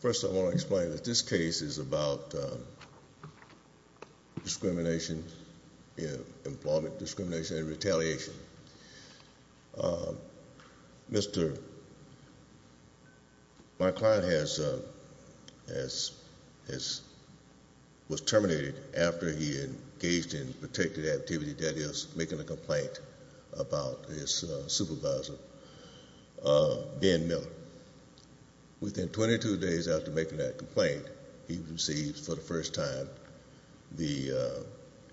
First I want to explain that this case is about discrimination in employment, discrimination and retaliation. My client was terminated after he engaged in a particular activity that is making a complaint. Within 22 days after making that complaint, he received for the first time the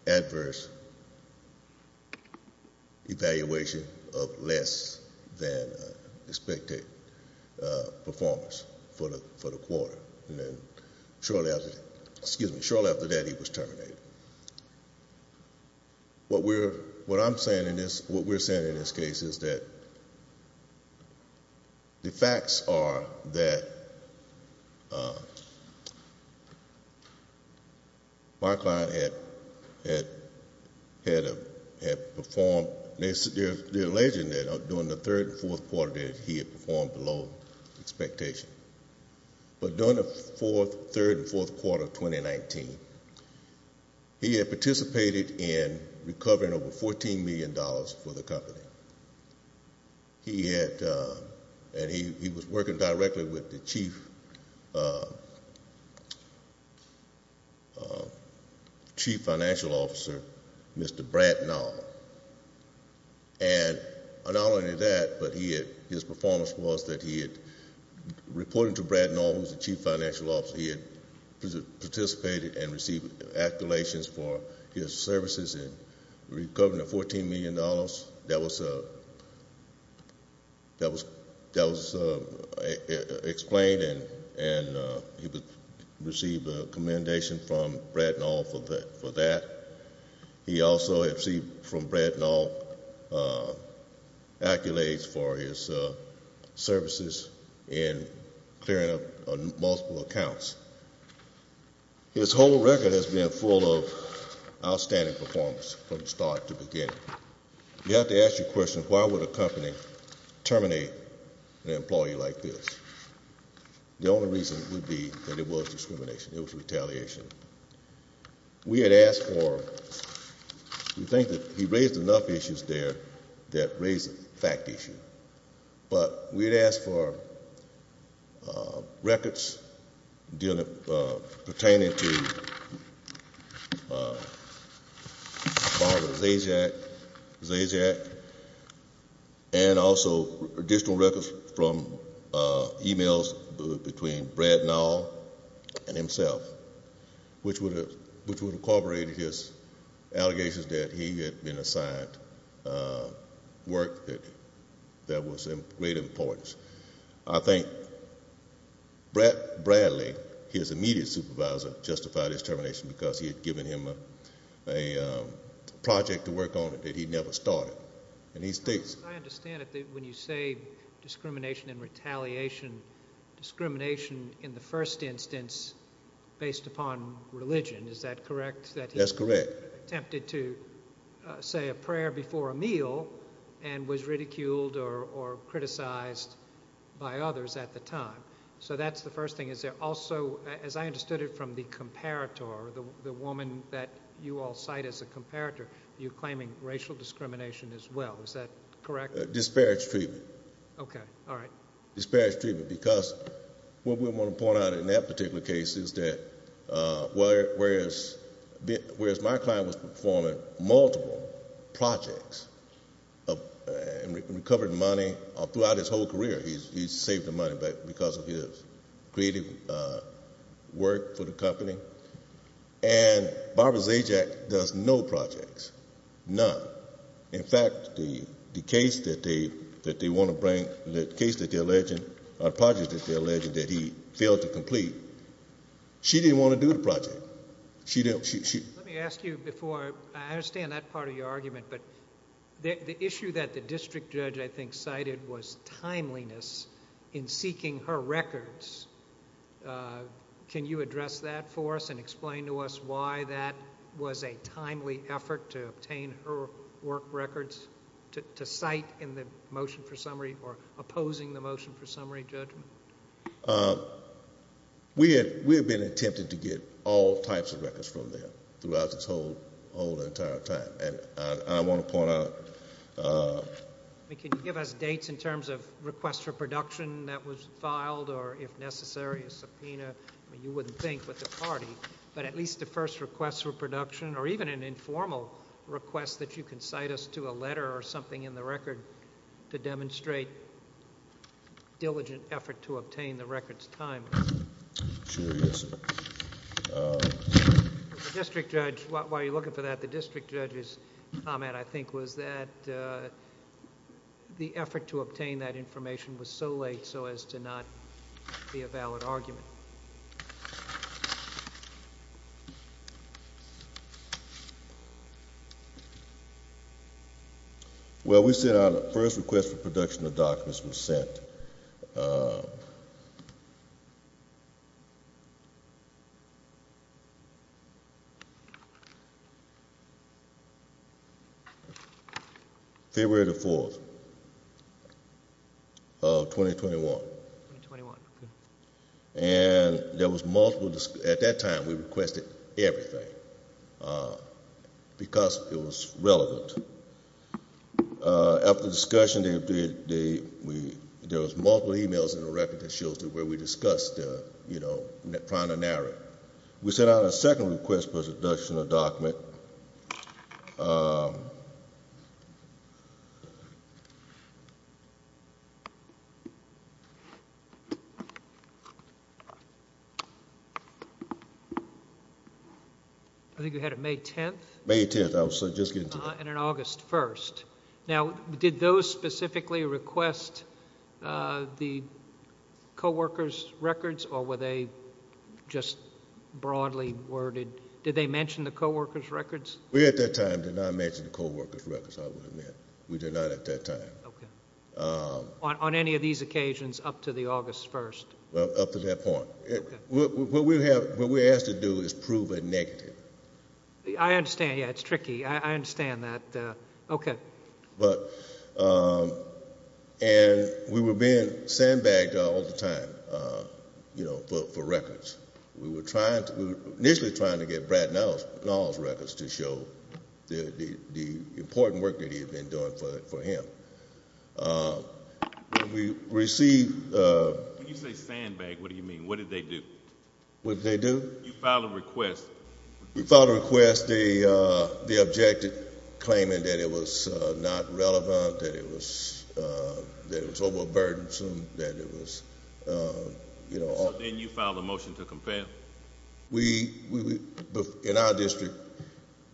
adverse evaluation of less than expected performance for the quarter and then shortly after that he was terminated. What we're saying in this case is that the facts are that my client had performed... they are alleging that during the third and fourth quarter that he had performed below expectation, but during the fourth, third and fourth quarter of 2019, he had participated in recovering over $14 million for the company. He had... and he was working directly with the chief financial officer, Mr. Bradt Nowell, and not only that, but his performance was that he had reported to Bradt Nowell, who was the chief financial officer, he had participated and received accolades for his services in recovering the $14 million. That was explained and he received a commendation from Bradt Nowell for that. He also received from Bradt Nowell accolades for his services in clearing up multiple accounts. His whole record has been full of outstanding performance from start to beginning. You have to ask your question, why would a company terminate an employee like this? The only reason would be that it was discrimination, it was retaliation. We had asked for... we think that he raised enough issues there that raised a fact issue, but we had asked for records pertaining to Zazak and also additional records from emails between Bradt Nowell and himself, which would have corroborated his allegations that he had been assigned work that was of great importance. I think Bradt Bradley, his immediate supervisor, justified his termination because he had given him a project to work on that he never started. I understand that when you say discrimination and retaliation, discrimination in the first instance based upon religion, is that correct? That's correct. He attempted to say a prayer before a meal and was ridiculed or criticized by others at the time. That's the first thing. Also, as I understood it from the comparator, the woman that you all cite as a comparator, you're claiming racial discrimination as well. Is that correct? Disparage treatment. Okay. All right. Disparage treatment because what we want to point out in that particular case is that whereas my client was performing multiple projects and recovered money throughout his and Barbara Zajac does no projects. None. In fact, the case that they want to bring, the case that they're alleging, the project that they're alleging that he failed to complete, she didn't want to do the project. Let me ask you before. I understand that part of your argument, but the issue that the district judge, I think, cited was timeliness in seeking her records. Can you address that for us and explain to us why that was a timely effort to obtain her work records to cite in the motion for summary or opposing the motion for summary judgment? We had been attempting to get all types of records from them throughout this whole entire time. I want to point out. Can you give us dates in terms of request for production that was filed or if necessary a subpoena? You wouldn't think with the party, but at least the first request for production or even an informal request that you can cite us to a letter or something in the record to demonstrate diligent effort to obtain the records timely. Sure. Yes, sir. The district judge, while you're looking for that, the district judge's comment, I think, was that the effort to obtain that information was so late so as to not be a valid argument. Well, we said our first request for production of documents was sent. February the 4th of 2021. And there was multiple. At that time, we requested everything because it was relevant. After the discussion, there was multiple e-mails in the record that shows where we discussed prior to narrowing. We sent out a second request for production of document. I think you had it May 10th? May 10th. I was just getting to that. And then August 1st. Now, did those specifically request the co-workers' records, or were they just broadly worded? Did they mention the co-workers' records? We, at that time, did not mention the co-workers' records, I will admit. We did not at that time. Okay. On any of these occasions up to the August 1st? Well, up to that point. Okay. What we're asked to do is prove a negative. I understand. Yeah, it's tricky. I understand that. Okay. And we were being sandbagged all the time, you know, for records. We were initially trying to get Brad Nall's records to show the important work that he had been doing for him. When we received the – When you say sandbagged, what do you mean? What did they do? What did they do? You filed a request. We filed a request. They objected, claiming that it was not relevant, that it was overburdensome, that it was, you know. So then you filed a motion to compare? We, in our district,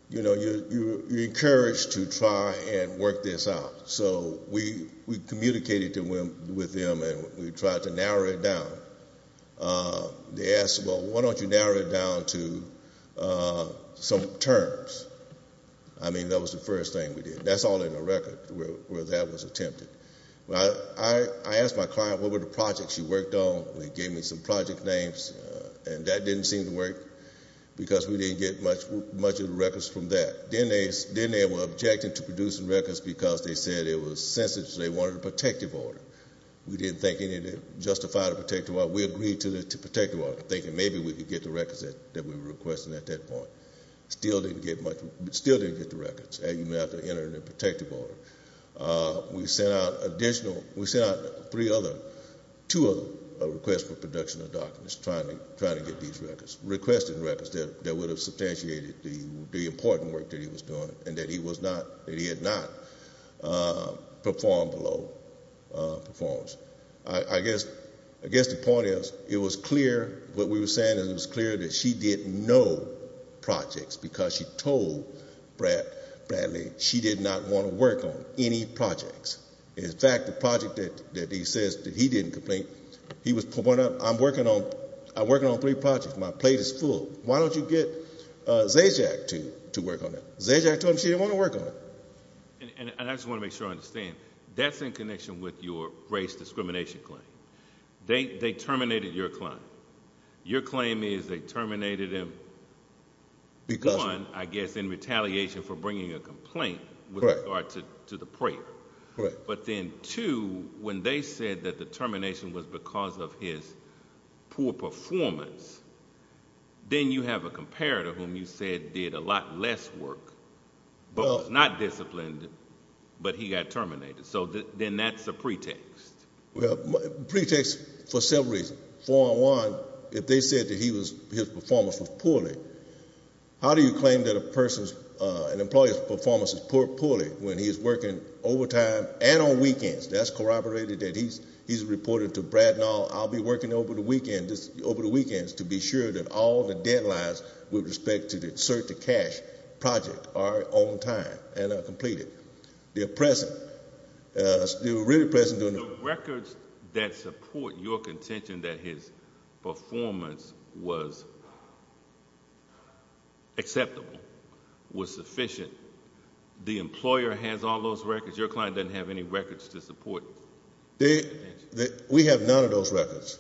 you know, you're encouraged to try and work this out. So we communicated with them, and we tried to narrow it down. They asked, well, why don't you narrow it down to some terms? I mean, that was the first thing we did. That's all in the record where that was attempted. I asked my client what were the projects she worked on, and they gave me some project names, and that didn't seem to work because we didn't get much of the records from that. Then they were objecting to producing records because they said it was sensitive, they wanted a protective order. We didn't think anything justified a protective order. We agreed to the protective order, thinking maybe we could get the records that we were requesting at that point. Still didn't get much. Still didn't get the records. You may have to enter in a protective order. We sent out additional, we sent out three other, two other requests for production of documents, trying to get these records, requested records that would have substantiated the important work that he was doing and that he had not performed below performance. I guess the point is it was clear, what we were saying is it was clear that she didn't know projects because she told Bradley she did not want to work on any projects. In fact, the project that he says that he didn't complete, he was pointing out, I'm working on three projects, my plate is full. Why don't you get Zajac to work on that? Zajac told him she didn't want to work on it. And I just want to make sure I understand, that's in connection with your race discrimination claim. They terminated your claim. Your claim is they terminated him, one, I guess in retaliation for bringing a complaint with regard to the prayer. But then, two, when they said that the termination was because of his poor performance, then you have a comparator whom you said did a lot less work, but was not disciplined, but he got terminated. So then that's a pretext. Well, pretext for several reasons. For one, if they said that he was, his performance was poorly, how do you claim that a person's, an employee's performance is poorly when he is working overtime and on weekends? That's corroborated that he's reported to Brad and all, I'll be working over the weekends to be sure that all the deadlines with respect to the search to cash project are on time and are completed. They're present. They're really present. The records that support your contention that his performance was acceptable, was sufficient, the employer has all those records. Your client doesn't have any records to support. We have none of those records.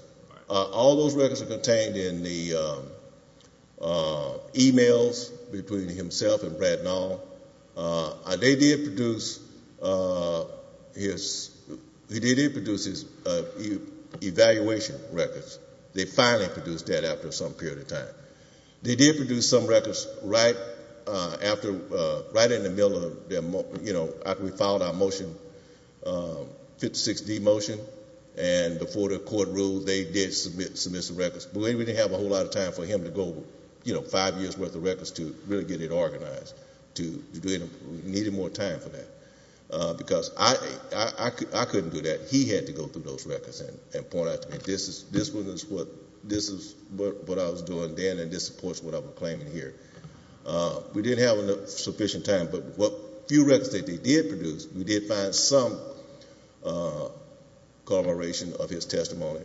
All those records are contained in the e-mails between himself and Brad and all. They did produce his evaluation records. They finally produced that after some period of time. They did produce some records right after, right in the middle of, you know, after we filed our motion, 56D motion, and before the court ruled, they did submit some records, but we didn't have a whole lot of time for him to go, you know, five years' worth of records to really get it organized, needed more time for that. Because I couldn't do that. He had to go through those records and point out to me, this is what I was doing then, and this supports what I'm claiming here. We didn't have enough sufficient time, but a few records that they did produce, we did find some corroboration of his testimony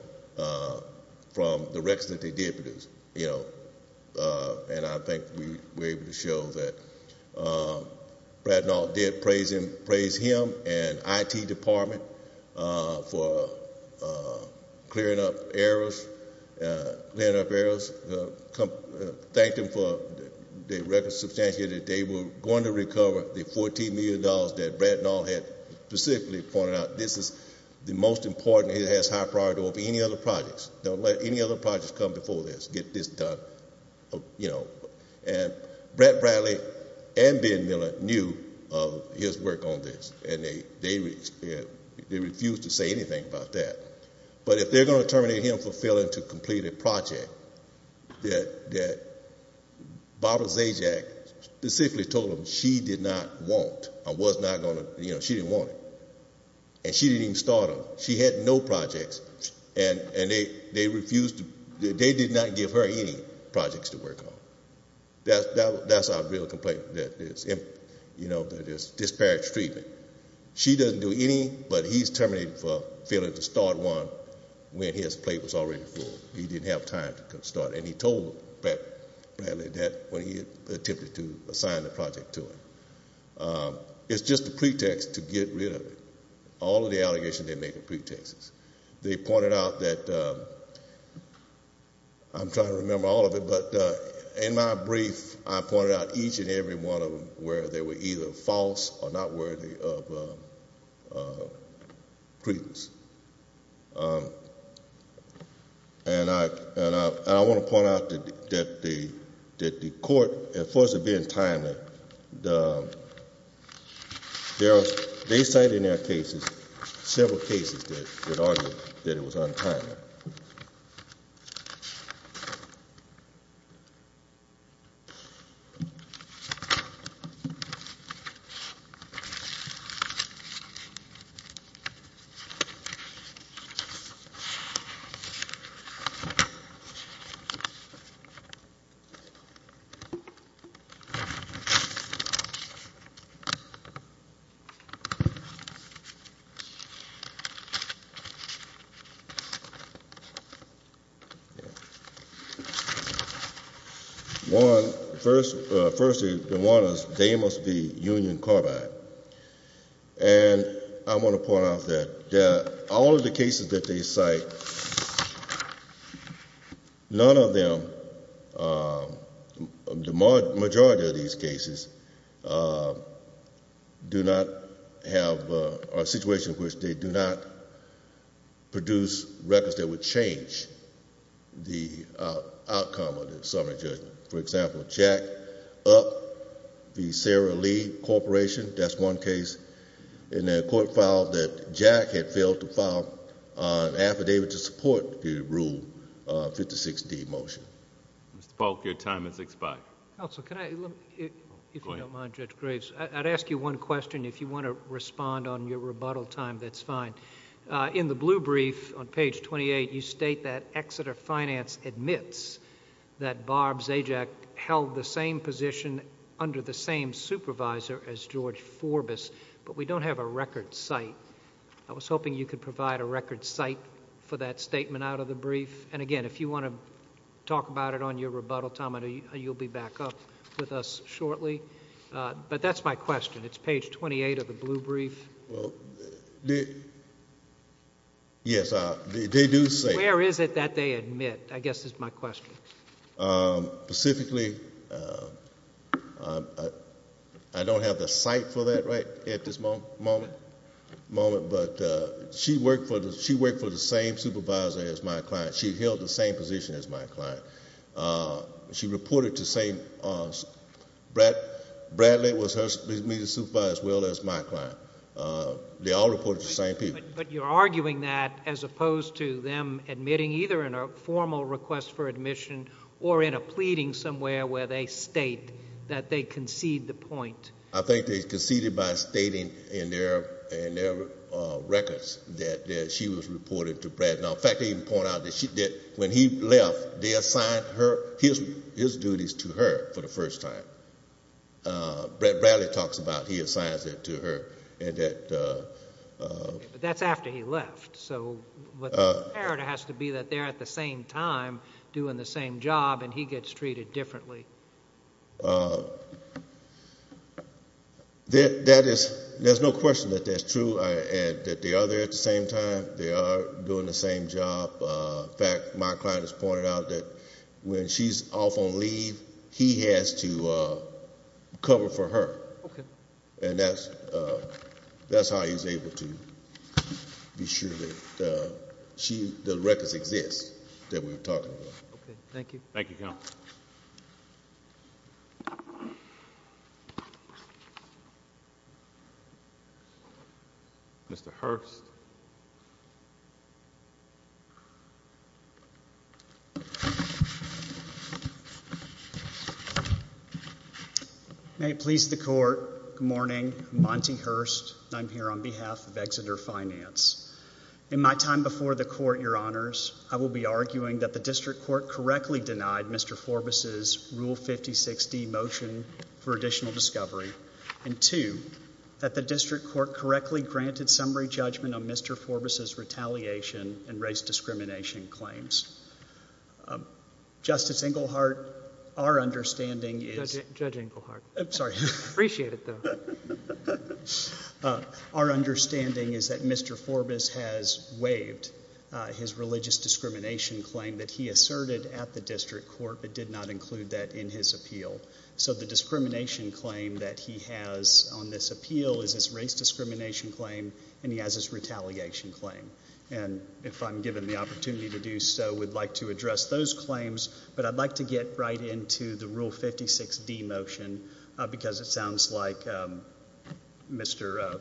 from the records that they did produce, you know. And I think we were able to show that Brad Nall did praise him and the IT department for clearing up errors, thanked them for the record substantial that they were going to recover the $14 million that Brad Nall had specifically pointed out. This is the most important he has had prior to any other projects. Don't let any other projects come before this. Get this done, you know. And Brett Bradley and Ben Miller knew of his work on this, and they refused to say anything about that. But if they're going to terminate him for failing to complete a project, that Barbara Zajac specifically told them she did not want, or was not going to, you know, she didn't want it. And she didn't even start them. She had no projects, and they refused to, they did not give her any projects to work on. That's our real complaint, that it's disparage treatment. She doesn't do any, but he's terminated for failing to start one when his plate was already full. He didn't have time to start. And he told Bradley that when he attempted to assign the project to him. It's just a pretext to get rid of it. All of the allegations they make are pretexts. They pointed out that, I'm trying to remember all of it, but in my brief, I pointed out each and every one of them where they were either false or not worthy of credence. And I want to point out that the court, as far as it being timely, they cited in their cases several cases that argued that it was untimely. One, firstly, the one is Deimos v. Union Carbide. And I want to point out that all of the cases that they cite, none of them, the majority of these cases do not have a situation in which they do not produce records that would change the outcome of the summary judgment. For example, Jack Up v. Sara Lee Corporation, that's one case. And the court filed that Jack had failed to file an affidavit to support the Rule 56D motion. Mr. Polk, your time has expired. Counsel, if you don't mind, Judge Graves, I'd ask you one question. If you want to respond on your rebuttal time, that's fine. In the blue brief on page 28, you state that Exeter Finance admits that but we don't have a record cite. I was hoping you could provide a record cite for that statement out of the brief. And, again, if you want to talk about it on your rebuttal time, you'll be back up with us shortly. But that's my question. It's page 28 of the blue brief. Well, yes, they do say. Where is it that they admit? I guess is my question. Specifically, I don't have the cite for that right at this moment, but she worked for the same supervisor as my client. She held the same position as my client. She reported to the same—Bradley was her immediate supervisor as well as my client. They all reported to the same people. But you're arguing that as opposed to them admitting either in a formal request for admission or in a pleading somewhere where they state that they concede the point. I think they conceded by stating in their records that she was reported to Brad. In fact, they even point out that when he left, they assigned his duties to her for the first time. Bradley talks about he assigned it to her. But that's after he left. So what the imperative has to be that they're at the same time doing the same job and he gets treated differently. There's no question that that's true and that they are there at the same time. They are doing the same job. In fact, my client has pointed out that when she's off on leave, he has to cover for her. Okay. And that's how he's able to be sure that the records exist that we're talking about. Okay. Thank you. Thank you, Counsel. Thank you. Mr. Hurst. May it please the Court. Good morning. Monty Hurst. I'm here on behalf of Exeter Finance. In my time before the Court, Your Honors, I will be arguing that the District Court correctly denied Mr. Forbus' Rule 56D motion for additional discovery and, two, that the District Court correctly granted summary judgment on Mr. Forbus' retaliation and race discrimination claims. Justice Englehart, our understanding is— Judge Englehart. I'm sorry. Appreciate it, though. Our understanding is that Mr. Forbus has waived his religious discrimination claim that he asserted at the District Court but did not include that in his appeal. So the discrimination claim that he has on this appeal is his race discrimination claim, and he has his retaliation claim. And if I'm given the opportunity to do so, we'd like to address those claims, but I'd like to get right into the Rule 56D motion because it sounds like Mr.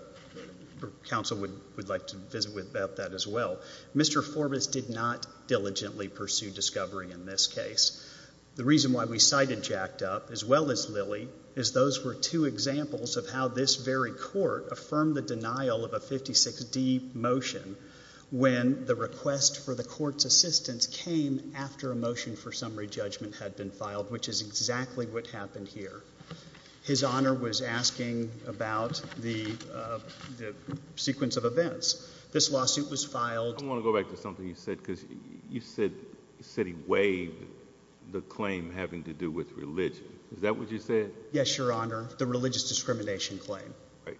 Counsel would like to visit with that as well. Mr. Forbus did not diligently pursue discovery in this case. The reason why we cited jacked up, as well as Lilly, is those were two examples of how this very Court affirmed the denial of a 56D motion when the request for the Court's assistance came after a motion for summary judgment had been filed, which is exactly what happened here. His Honor was asking about the sequence of events. This lawsuit was filed— I want to go back to something you said because you said he waived the claim having to do with religion. Is that what you said? Yes, Your Honor, the religious discrimination claim.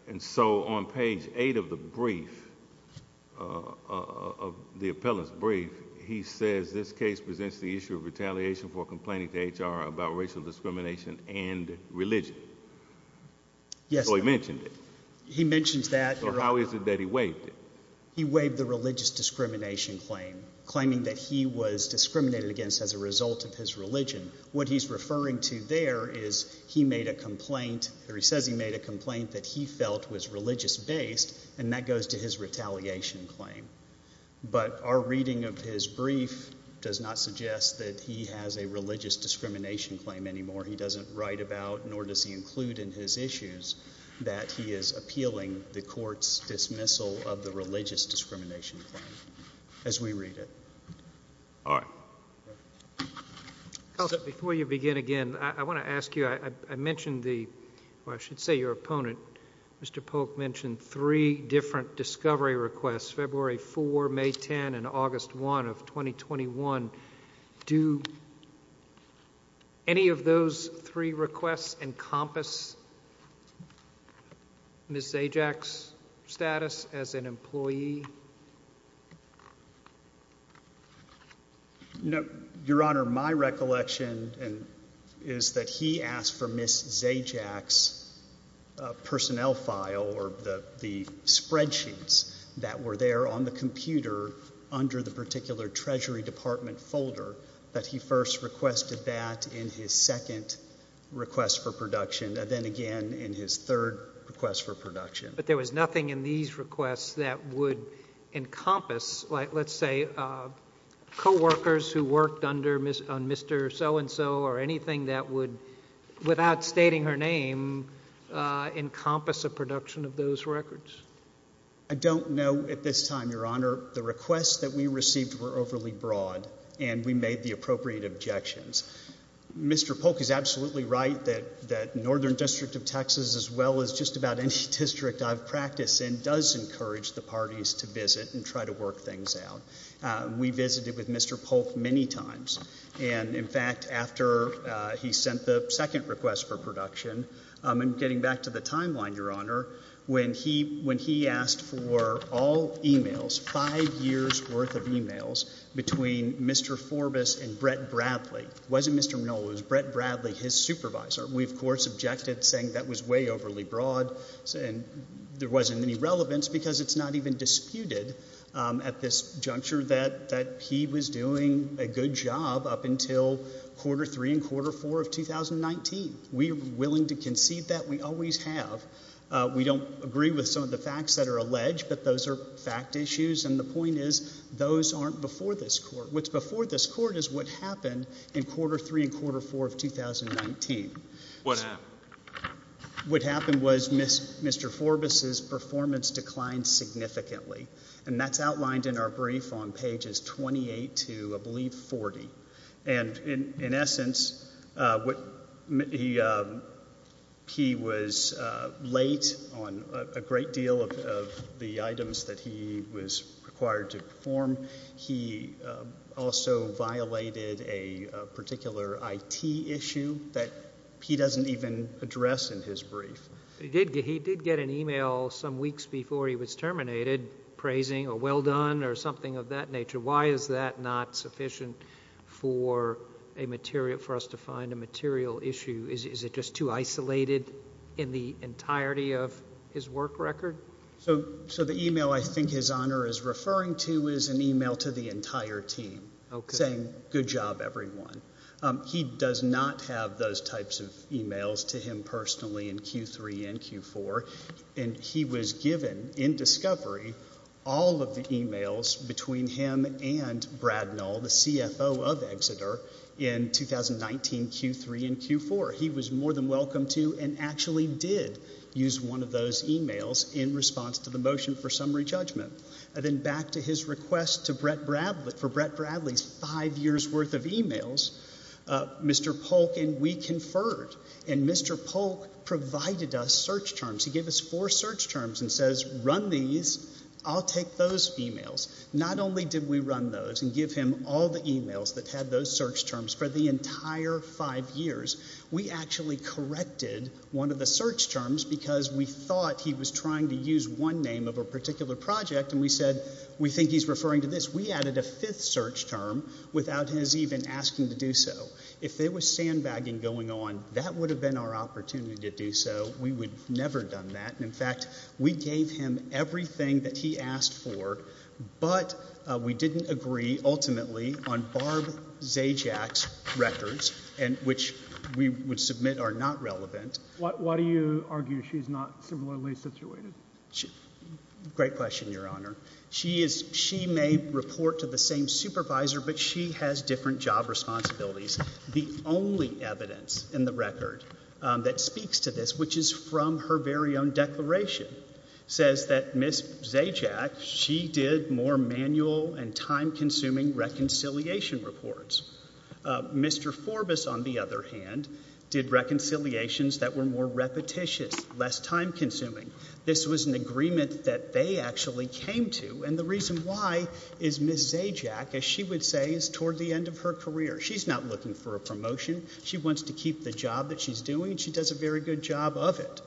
And so on page 8 of the brief, of the appellant's brief, he says this case presents the issue of retaliation for complaining to HR about racial discrimination and religion. Yes, Your Honor. So he mentioned it. He mentioned that, Your Honor. So how is it that he waived it? He waived the religious discrimination claim, claiming that he was discriminated against as a result of his religion. What he's referring to there is he made a complaint— or he says he made a complaint that he felt was religious-based, and that goes to his retaliation claim. But our reading of his brief does not suggest that he has a religious discrimination claim anymore. He doesn't write about, nor does he include in his issues, that he is appealing the Court's dismissal of the religious discrimination claim as we read it. All right. Counsel, before you begin again, I want to ask you, I mentioned the—or I should say your opponent, Mr. Polk, mentioned three different discovery requests, February 4, May 10, and August 1 of 2021. Do any of those three requests encompass Ms. Zajac's status as an employee? No, Your Honor. My recollection is that he asked for Ms. Zajac's personnel file, or the spreadsheets that were there on the computer under the particular Treasury Department folder, that he first requested that in his second request for production, and then again in his third request for production. But there was nothing in these requests that would encompass, let's say, coworkers who worked under Mr. So-and-so or anything that would, without stating her name, encompass a production of those records. I don't know at this time, Your Honor. The requests that we received were overly broad, and we made the appropriate objections. Mr. Polk is absolutely right that Northern District of Texas, as well as just about any district I've practiced in, does encourage the parties to visit and try to work things out. We visited with Mr. Polk many times, and in fact, after he sent the second request for production, and getting back to the timeline, Your Honor, when he asked for all e-mails, five years' worth of e-mails, between Mr. Forbus and Brett Bradley. It wasn't Mr. Minola, it was Brett Bradley, his supervisor. We, of course, objected, saying that was way overly broad, and there wasn't any relevance, because it's not even disputed at this juncture that he was doing a good job up until quarter three and quarter four of 2019. We are willing to concede that. We always have. We don't agree with some of the facts that are alleged, but those are fact issues, and the point is those aren't before this court. What's before this court is what happened in quarter three and quarter four of 2019. What happened? What happened was Mr. Forbus' performance declined significantly, and that's outlined in our brief on pages 28 to, I believe, 40. And in essence, he was late on a great deal of the items that he was required to perform. He also violated a particular IT issue that he doesn't even address in his brief. He did get an e-mail some weeks before he was terminated praising a well done or something of that nature. Why is that not sufficient for us to find a material issue? Is it just too isolated in the entirety of his work record? So the e-mail I think His Honor is referring to is an e-mail to the entire team saying good job, everyone. He does not have those types of e-mails to him personally in Q3 and Q4, and he was given in discovery all of the e-mails between him and Brad Null, the CFO of Exeter, in 2019 Q3 and Q4. He was more than welcome to and actually did use one of those e-mails in response to the motion for summary judgment. And then back to his request for Brett Bradley's five years' worth of e-mails, Mr. Polk and we conferred, and Mr. Polk provided us search terms. He gave us four search terms and says run these, I'll take those e-mails. Not only did we run those and give him all the e-mails that had those search terms for the entire five years, we actually corrected one of the search terms because we thought he was trying to use one name of a particular project, and we said we think he's referring to this. We added a fifth search term without his even asking to do so. If there was sandbagging going on, that would have been our opportunity to do so. We would have never done that. In fact, we gave him everything that he asked for, but we didn't agree ultimately on Barb Zajac's records, which we would submit are not relevant. Why do you argue she's not similarly situated? Great question, Your Honor. She may report to the same supervisor, but she has different job responsibilities. The only evidence in the record that speaks to this, which is from her very own declaration, says that Ms. Zajac, she did more manual and time-consuming reconciliation reports. Mr. Forbus, on the other hand, did reconciliations that were more repetitious, less time-consuming. This was an agreement that they actually came to, and the reason why is Ms. Zajac, as she would say, is toward the end of her career. She's not looking for a promotion. She wants to keep the job that she's doing, and she does a very good job of it.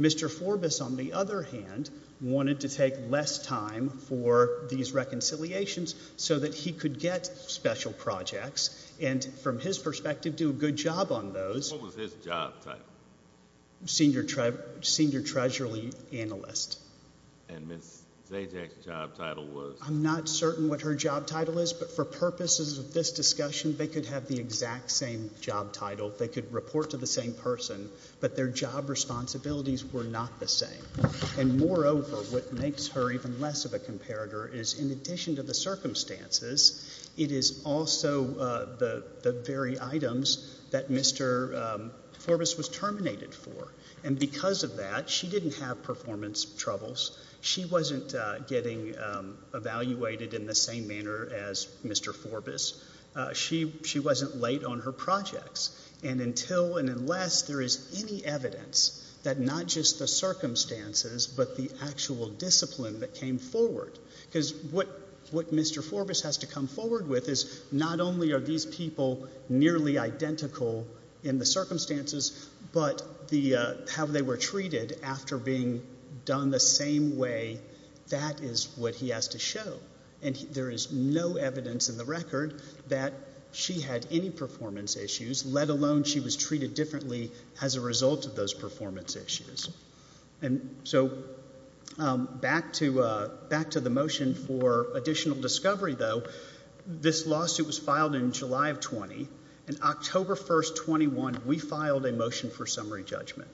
Mr. Forbus, on the other hand, wanted to take less time for these reconciliations so that he could get special projects and, from his perspective, do a good job on those. What was his job title? Senior treasury analyst. And Ms. Zajac's job title was? I'm not certain what her job title is, but for purposes of this discussion, they could have the exact same job title. They could report to the same person, but their job responsibilities were not the same. And moreover, what makes her even less of a comparator is, in addition to the circumstances, it is also the very items that Mr. Forbus was terminated for, and because of that, she didn't have performance troubles. She wasn't getting evaluated in the same manner as Mr. Forbus. She wasn't late on her projects. And until and unless there is any evidence that not just the circumstances but the actual discipline that came forward, because what Mr. Forbus has to come forward with is not only are these people nearly identical in the circumstances, but how they were treated after being done the same way, that is what he has to show. And there is no evidence in the record that she had any performance issues, let alone she was treated differently as a result of those performance issues. And so back to the motion for additional discovery, though, this lawsuit was filed in July of 20, and October 1, 21, we filed a motion for summary judgment.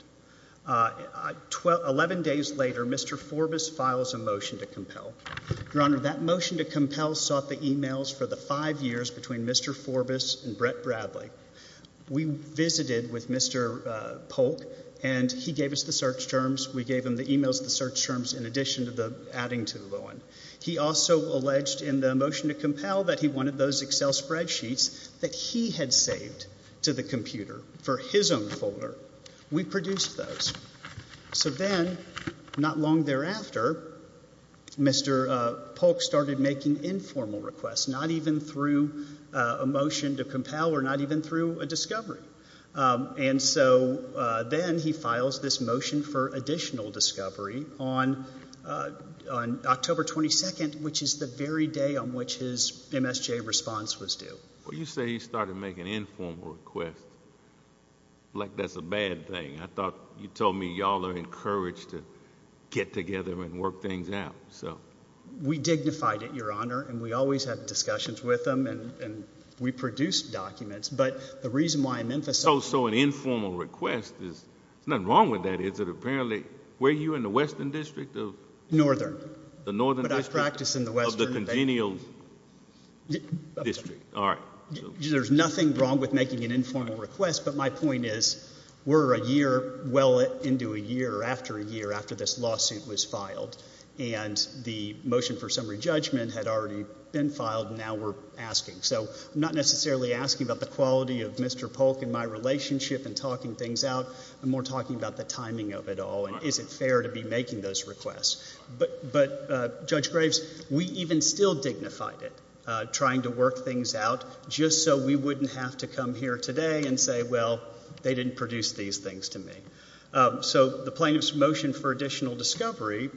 Eleven days later, Mr. Forbus files a motion to compel. Your Honor, that motion to compel sought the e-mails for the five years between Mr. Forbus and Brett Bradley. We visited with Mr. Polk, and he gave us the search terms. We gave him the e-mails and the search terms in addition to the adding to the loan. He also alleged in the motion to compel that he wanted those Excel spreadsheets that he had saved to the computer for his own folder. We produced those. So then, not long thereafter, Mr. Polk started making informal requests, not even through a motion to compel or not even through a discovery. And so then he files this motion for additional discovery on October 22, which is the very day on which his MSJ response was due. Well, you say he started making informal requests like that's a bad thing. I thought you told me you all are encouraged to get together and work things out, so. We dignified it, Your Honor, and we always had discussions with him, and we produced documents. But the reason why I'm emphasizing... So an informal request is... there's nothing wrong with that, is it? Apparently... were you in the Western District of... Northern. The Northern District. But I practice in the Western. Of the congenial district. All right. There's nothing wrong with making an informal request, but my point is we're a year well into a year or after a year after this lawsuit was filed, and the motion for summary judgment had already been filed, and now we're asking. So I'm not necessarily asking about the quality of Mr. Polk and my relationship in talking things out. I'm more talking about the timing of it all, and is it fair to be making those requests. But, Judge Graves, we even still dignified it, trying to work things out just so we wouldn't have to come here today and say, well, they didn't produce these things to me. So the plaintiff's motion for additional discovery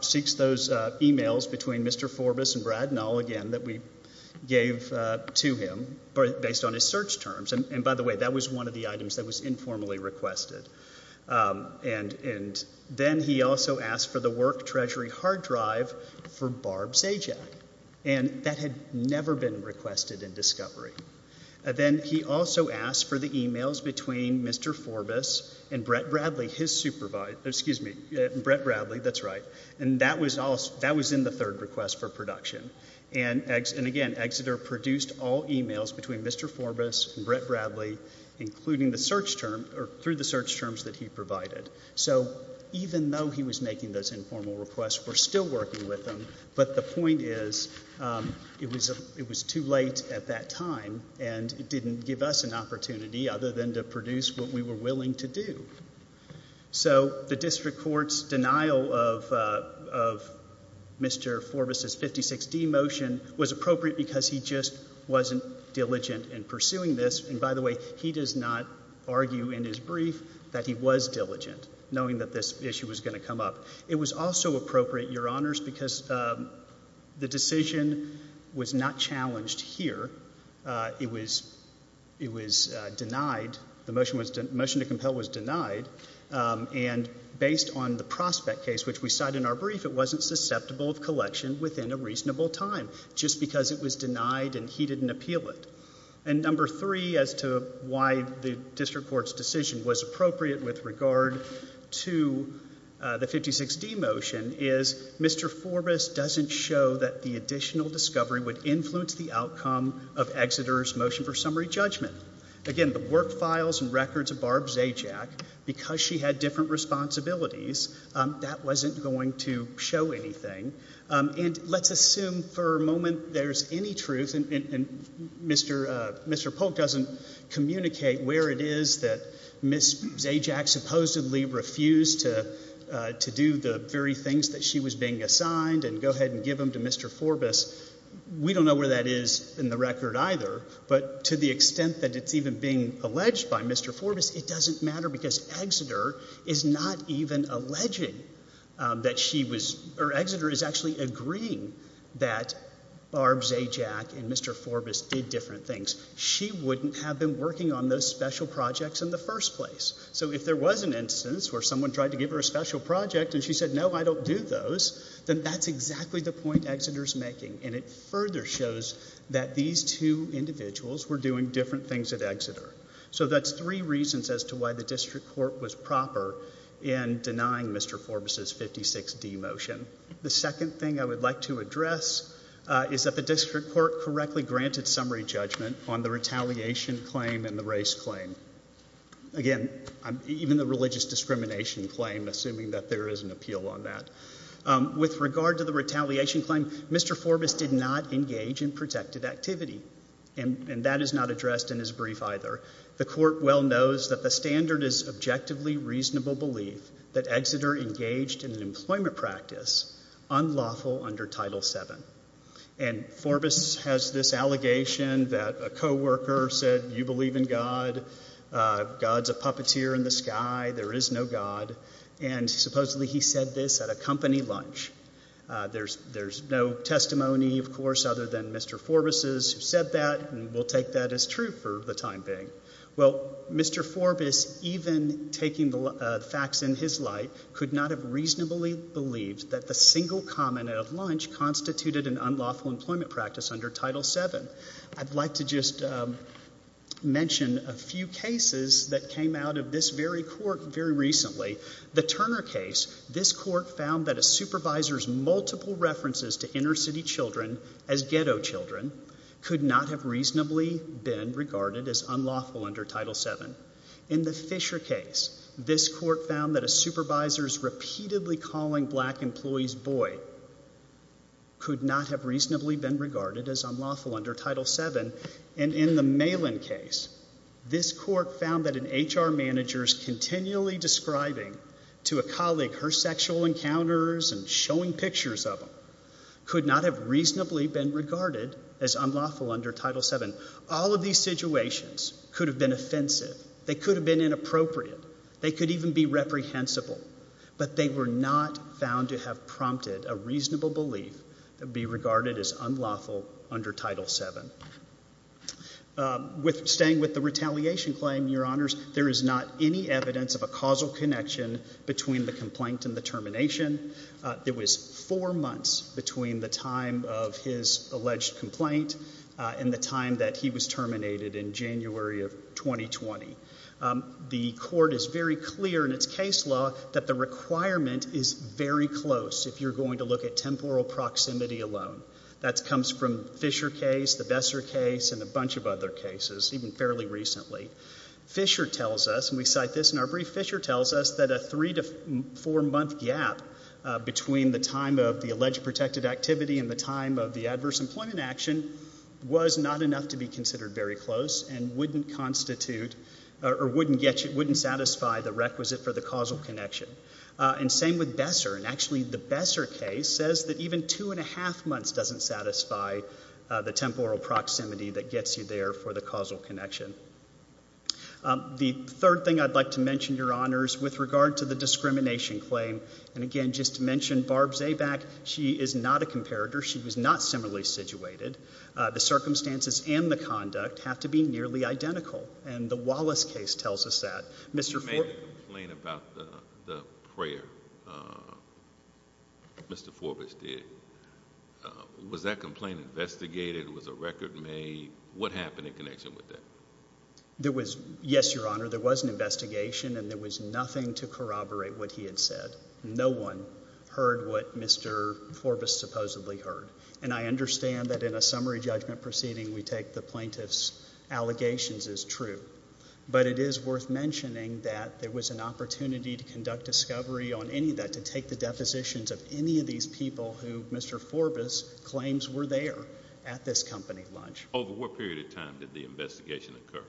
seeks those emails between Mr. Forbus and Brad Nall again that we gave to him based on his search terms. And, by the way, that was one of the items that was informally requested. And then he also asked for the work treasury hard drive for Barb Zajac, and that had never been requested in discovery. Then he also asked for the emails between Mr. Forbus and Brett Bradley, his supervisor. Excuse me. Brett Bradley, that's right. And that was in the third request for production. And, again, Exeter produced all emails between Mr. Forbus and Brett Bradley, including the search term or through the search terms that he provided. So even though he was making those informal requests, we're still working with them. But the point is it was too late at that time, and it didn't give us an opportunity other than to produce what we were willing to do. So the district court's denial of Mr. Forbus' 56D motion was appropriate because he just wasn't diligent in pursuing this. And, by the way, he does not argue in his brief that he was diligent, knowing that this issue was going to come up. It was also appropriate, Your Honors, because the decision was not challenged here. It was denied. The motion to compel was denied. And based on the prospect case, which we cite in our brief, it wasn't susceptible of collection within a reasonable time just because it was denied and he didn't appeal it. And number three as to why the district court's decision was appropriate with regard to the 56D motion is Mr. Forbus doesn't show that the additional discovery would influence the outcome of Exeter's motion for summary judgment. Again, the work files and records of Barb Zajac, because she had different responsibilities, that wasn't going to show anything. And let's assume for a moment there's any truth, and Mr. Polk doesn't communicate where it is that Ms. Zajac supposedly refused to do the very things that she was being assigned and go ahead and give them to Mr. Forbus. We don't know where that is in the record either. But to the extent that it's even being alleged by Mr. Forbus, it doesn't matter because Exeter is not even alleging that she was – or Exeter is actually agreeing that Barb Zajac and Mr. Forbus did different things. She wouldn't have been working on those special projects in the first place. So if there was an instance where someone tried to give her a special project and she said, no, I don't do those, then that's exactly the point Exeter's making. And it further shows that these two individuals were doing different things at Exeter. So that's three reasons as to why the district court was proper in denying Mr. Forbus's 56D motion. The second thing I would like to address is that the district court correctly granted summary judgment on the retaliation claim and the race claim. Again, even the religious discrimination claim, assuming that there is an appeal on that. With regard to the retaliation claim, Mr. Forbus did not engage in protected activity. And that is not addressed in his brief either. The court well knows that the standard is objectively reasonable belief that Exeter engaged in an employment practice unlawful under Title VII. And Forbus has this allegation that a coworker said, you believe in God, God's a puppeteer in the sky, there is no God. And supposedly he said this at a company lunch. There's no testimony, of course, other than Mr. Forbus's who said that and will take that as true for the time being. Well, Mr. Forbus, even taking the facts in his light, could not have reasonably believed that the single comment of lunch constituted an unlawful employment practice under Title VII. I'd like to just mention a few cases that came out of this very court very recently. The Turner case, this court found that a supervisor's multiple references to inner city children as ghetto children could not have reasonably been regarded as unlawful under Title VII. In the Fisher case, this court found that a supervisor's repeatedly calling black employees boy could not have reasonably been regarded as unlawful under Title VII. And in the Malin case, this court found that an HR manager's continually describing to a colleague her sexual encounters and showing pictures of them could not have reasonably been regarded as unlawful under Title VII. All of these situations could have been offensive. They could have been inappropriate. They could even be reprehensible. But they were not found to have prompted a reasonable belief to be regarded as unlawful under Title VII. Staying with the retaliation claim, Your Honors, there is not any evidence of a causal connection between the complaint and the termination. There was four months between the time of his alleged complaint and the time that he was terminated in January of 2020. The court is very clear in its case law that the requirement is very close if you're going to look at temporal proximity alone. That comes from Fisher case, the Besser case, and a bunch of other cases, even fairly recently. Fisher tells us, and we cite this in our brief, Fisher tells us that a three- to four-month gap between the time of the alleged protected activity and the time of the adverse employment action was not enough to be considered very close and wouldn't constitute or wouldn't satisfy the requisite for the causal connection. And same with Besser. And actually, the Besser case says that even two-and-a-half months doesn't satisfy the temporal proximity that gets you there for the causal connection. The third thing I'd like to mention, Your Honors, with regard to the discrimination claim, and again, just to mention, Barb Zaback, she is not a comparator. She was not similarly situated. The circumstances and the conduct have to be nearly identical. And the Wallace case tells us that. You made a complaint about the prayer Mr. Forbus did. Was that complaint investigated? Was a record made? What happened in connection with that? Yes, Your Honor, there was an investigation, and there was nothing to corroborate what he had said. No one heard what Mr. Forbus supposedly heard. And I understand that in a summary judgment proceeding, we take the plaintiff's allegations as true. But it is worth mentioning that there was an opportunity to conduct discovery on any of that, to take the depositions of any of these people who Mr. Forbus claims were there at this company lunch. Over what period of time did the investigation occur?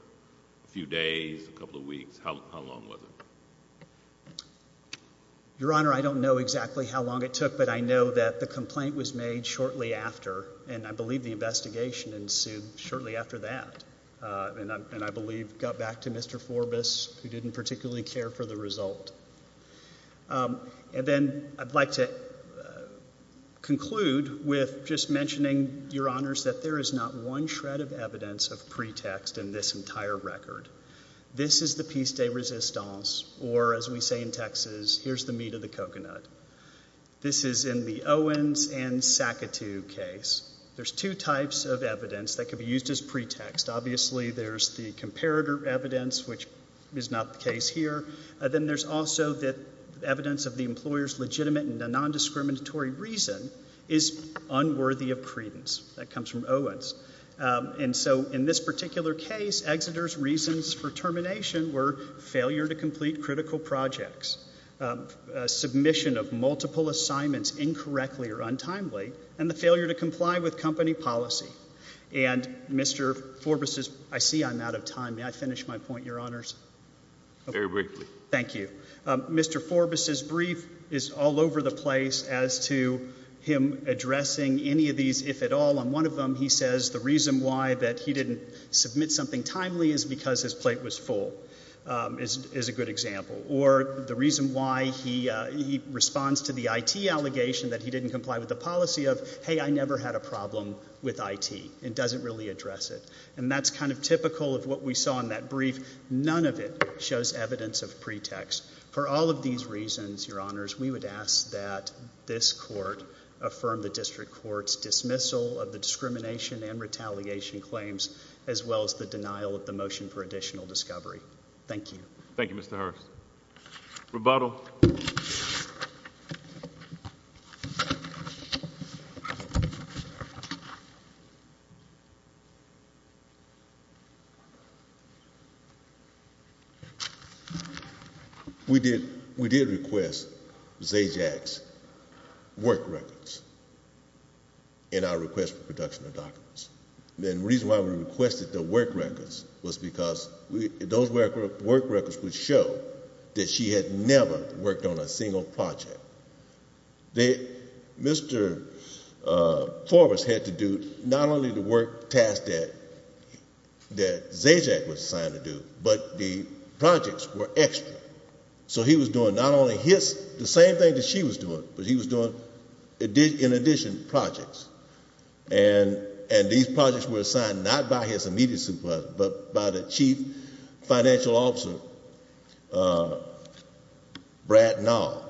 A few days? A couple of weeks? How long was it? Your Honor, I don't know exactly how long it took, but I know that the complaint was made shortly after, and I believe the investigation ensued shortly after that. And I believe it got back to Mr. Forbus, who didn't particularly care for the result. And then I'd like to conclude with just mentioning, Your Honors, that there is not one shred of evidence of pretext in this entire record. This is the piece de resistance, or as we say in Texas, here's the meat of the coconut. This is in the Owens and Sakatu case. There's two types of evidence that could be used as pretext. Obviously, there's the comparator evidence, which is not the case here. Then there's also the evidence of the employer's legitimate and non-discriminatory reason is unworthy of credence. That comes from Owens. And so in this particular case, Exeter's reasons for termination were failure to complete critical projects, submission of multiple assignments incorrectly or untimely, and the failure to comply with company policy. And Mr. Forbus's, I see I'm out of time. May I finish my point, Your Honors? Very briefly. Thank you. Mr. Forbus's brief is all over the place as to him addressing any of these, if at all. On one of them, he says the reason why that he didn't submit something timely is because his plate was full, is a good example. Or the reason why he responds to the IT allegation that he didn't comply with the policy of, hey, I never had a problem with IT. It doesn't really address it. And that's kind of typical of what we saw in that brief. None of it shows evidence of pretext. For all of these reasons, Your Honors, we would ask that this court affirm the district court's dismissal of the discrimination and retaliation claims, as well as the denial of the motion for additional discovery. Thank you. Thank you, Mr. Hurst. Rebuttal. We did request Zajac's work records in our request for production of documents. And the reason why we requested the work records was because those work records would show that she had never worked on a single project. Mr. Forbus had to do not only the work task that Zajac was assigned to do, but the projects were extra. So he was doing not only his, the same thing that she was doing, but he was doing in addition projects. And these projects were assigned not by his immediate supervisor, but by the chief financial officer, Brad Nall.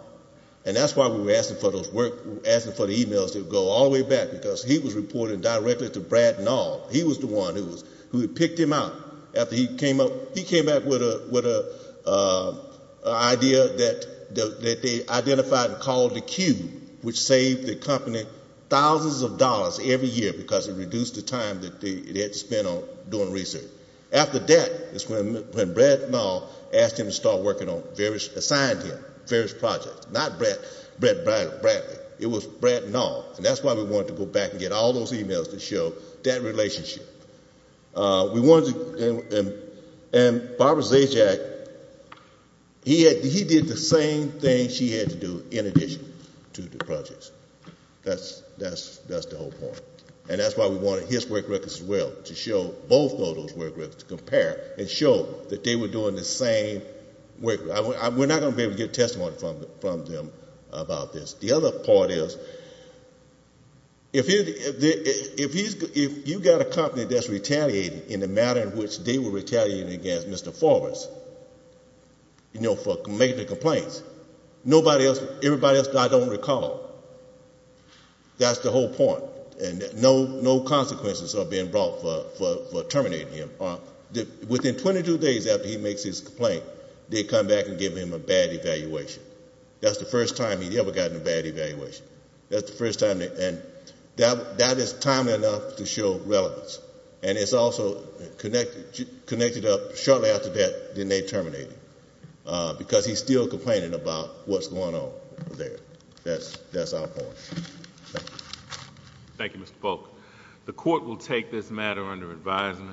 And that's why we were asking for the emails to go all the way back, because he was reporting directly to Brad Nall. He was the one who had picked him out after he came up. He came back with an idea that they identified and called the Q, which saved the company thousands of dollars every year, because it reduced the time that they had to spend on doing research. After that is when Brad Nall asked him to start working on various assignments, various projects. Not Brad Bradley. It was Brad Nall. And that's why we wanted to go back and get all those emails to show that relationship. We wanted to, and Barbara Zajac, he did the same thing she had to do in addition to the projects. That's the whole point. And that's why we wanted his work records as well, to show both of those work records, to compare and show that they were doing the same work. We're not going to be able to get testimony from them about this. The other part is, if you've got a company that's retaliating in the manner in which they were retaliating against Mr. Forbes, you know, for making the complaints, everybody else I don't recall. That's the whole point. And no consequences are being brought for terminating him. Within 22 days after he makes his complaint, they come back and give him a bad evaluation. That's the first time he ever got a bad evaluation. That's the first time. And that is timely enough to show relevance. And it's also connected up shortly after that, then they terminate him, because he's still complaining about what's going on there. That's our point. Thank you, Mr. Polk. The court will take this matter under advisement.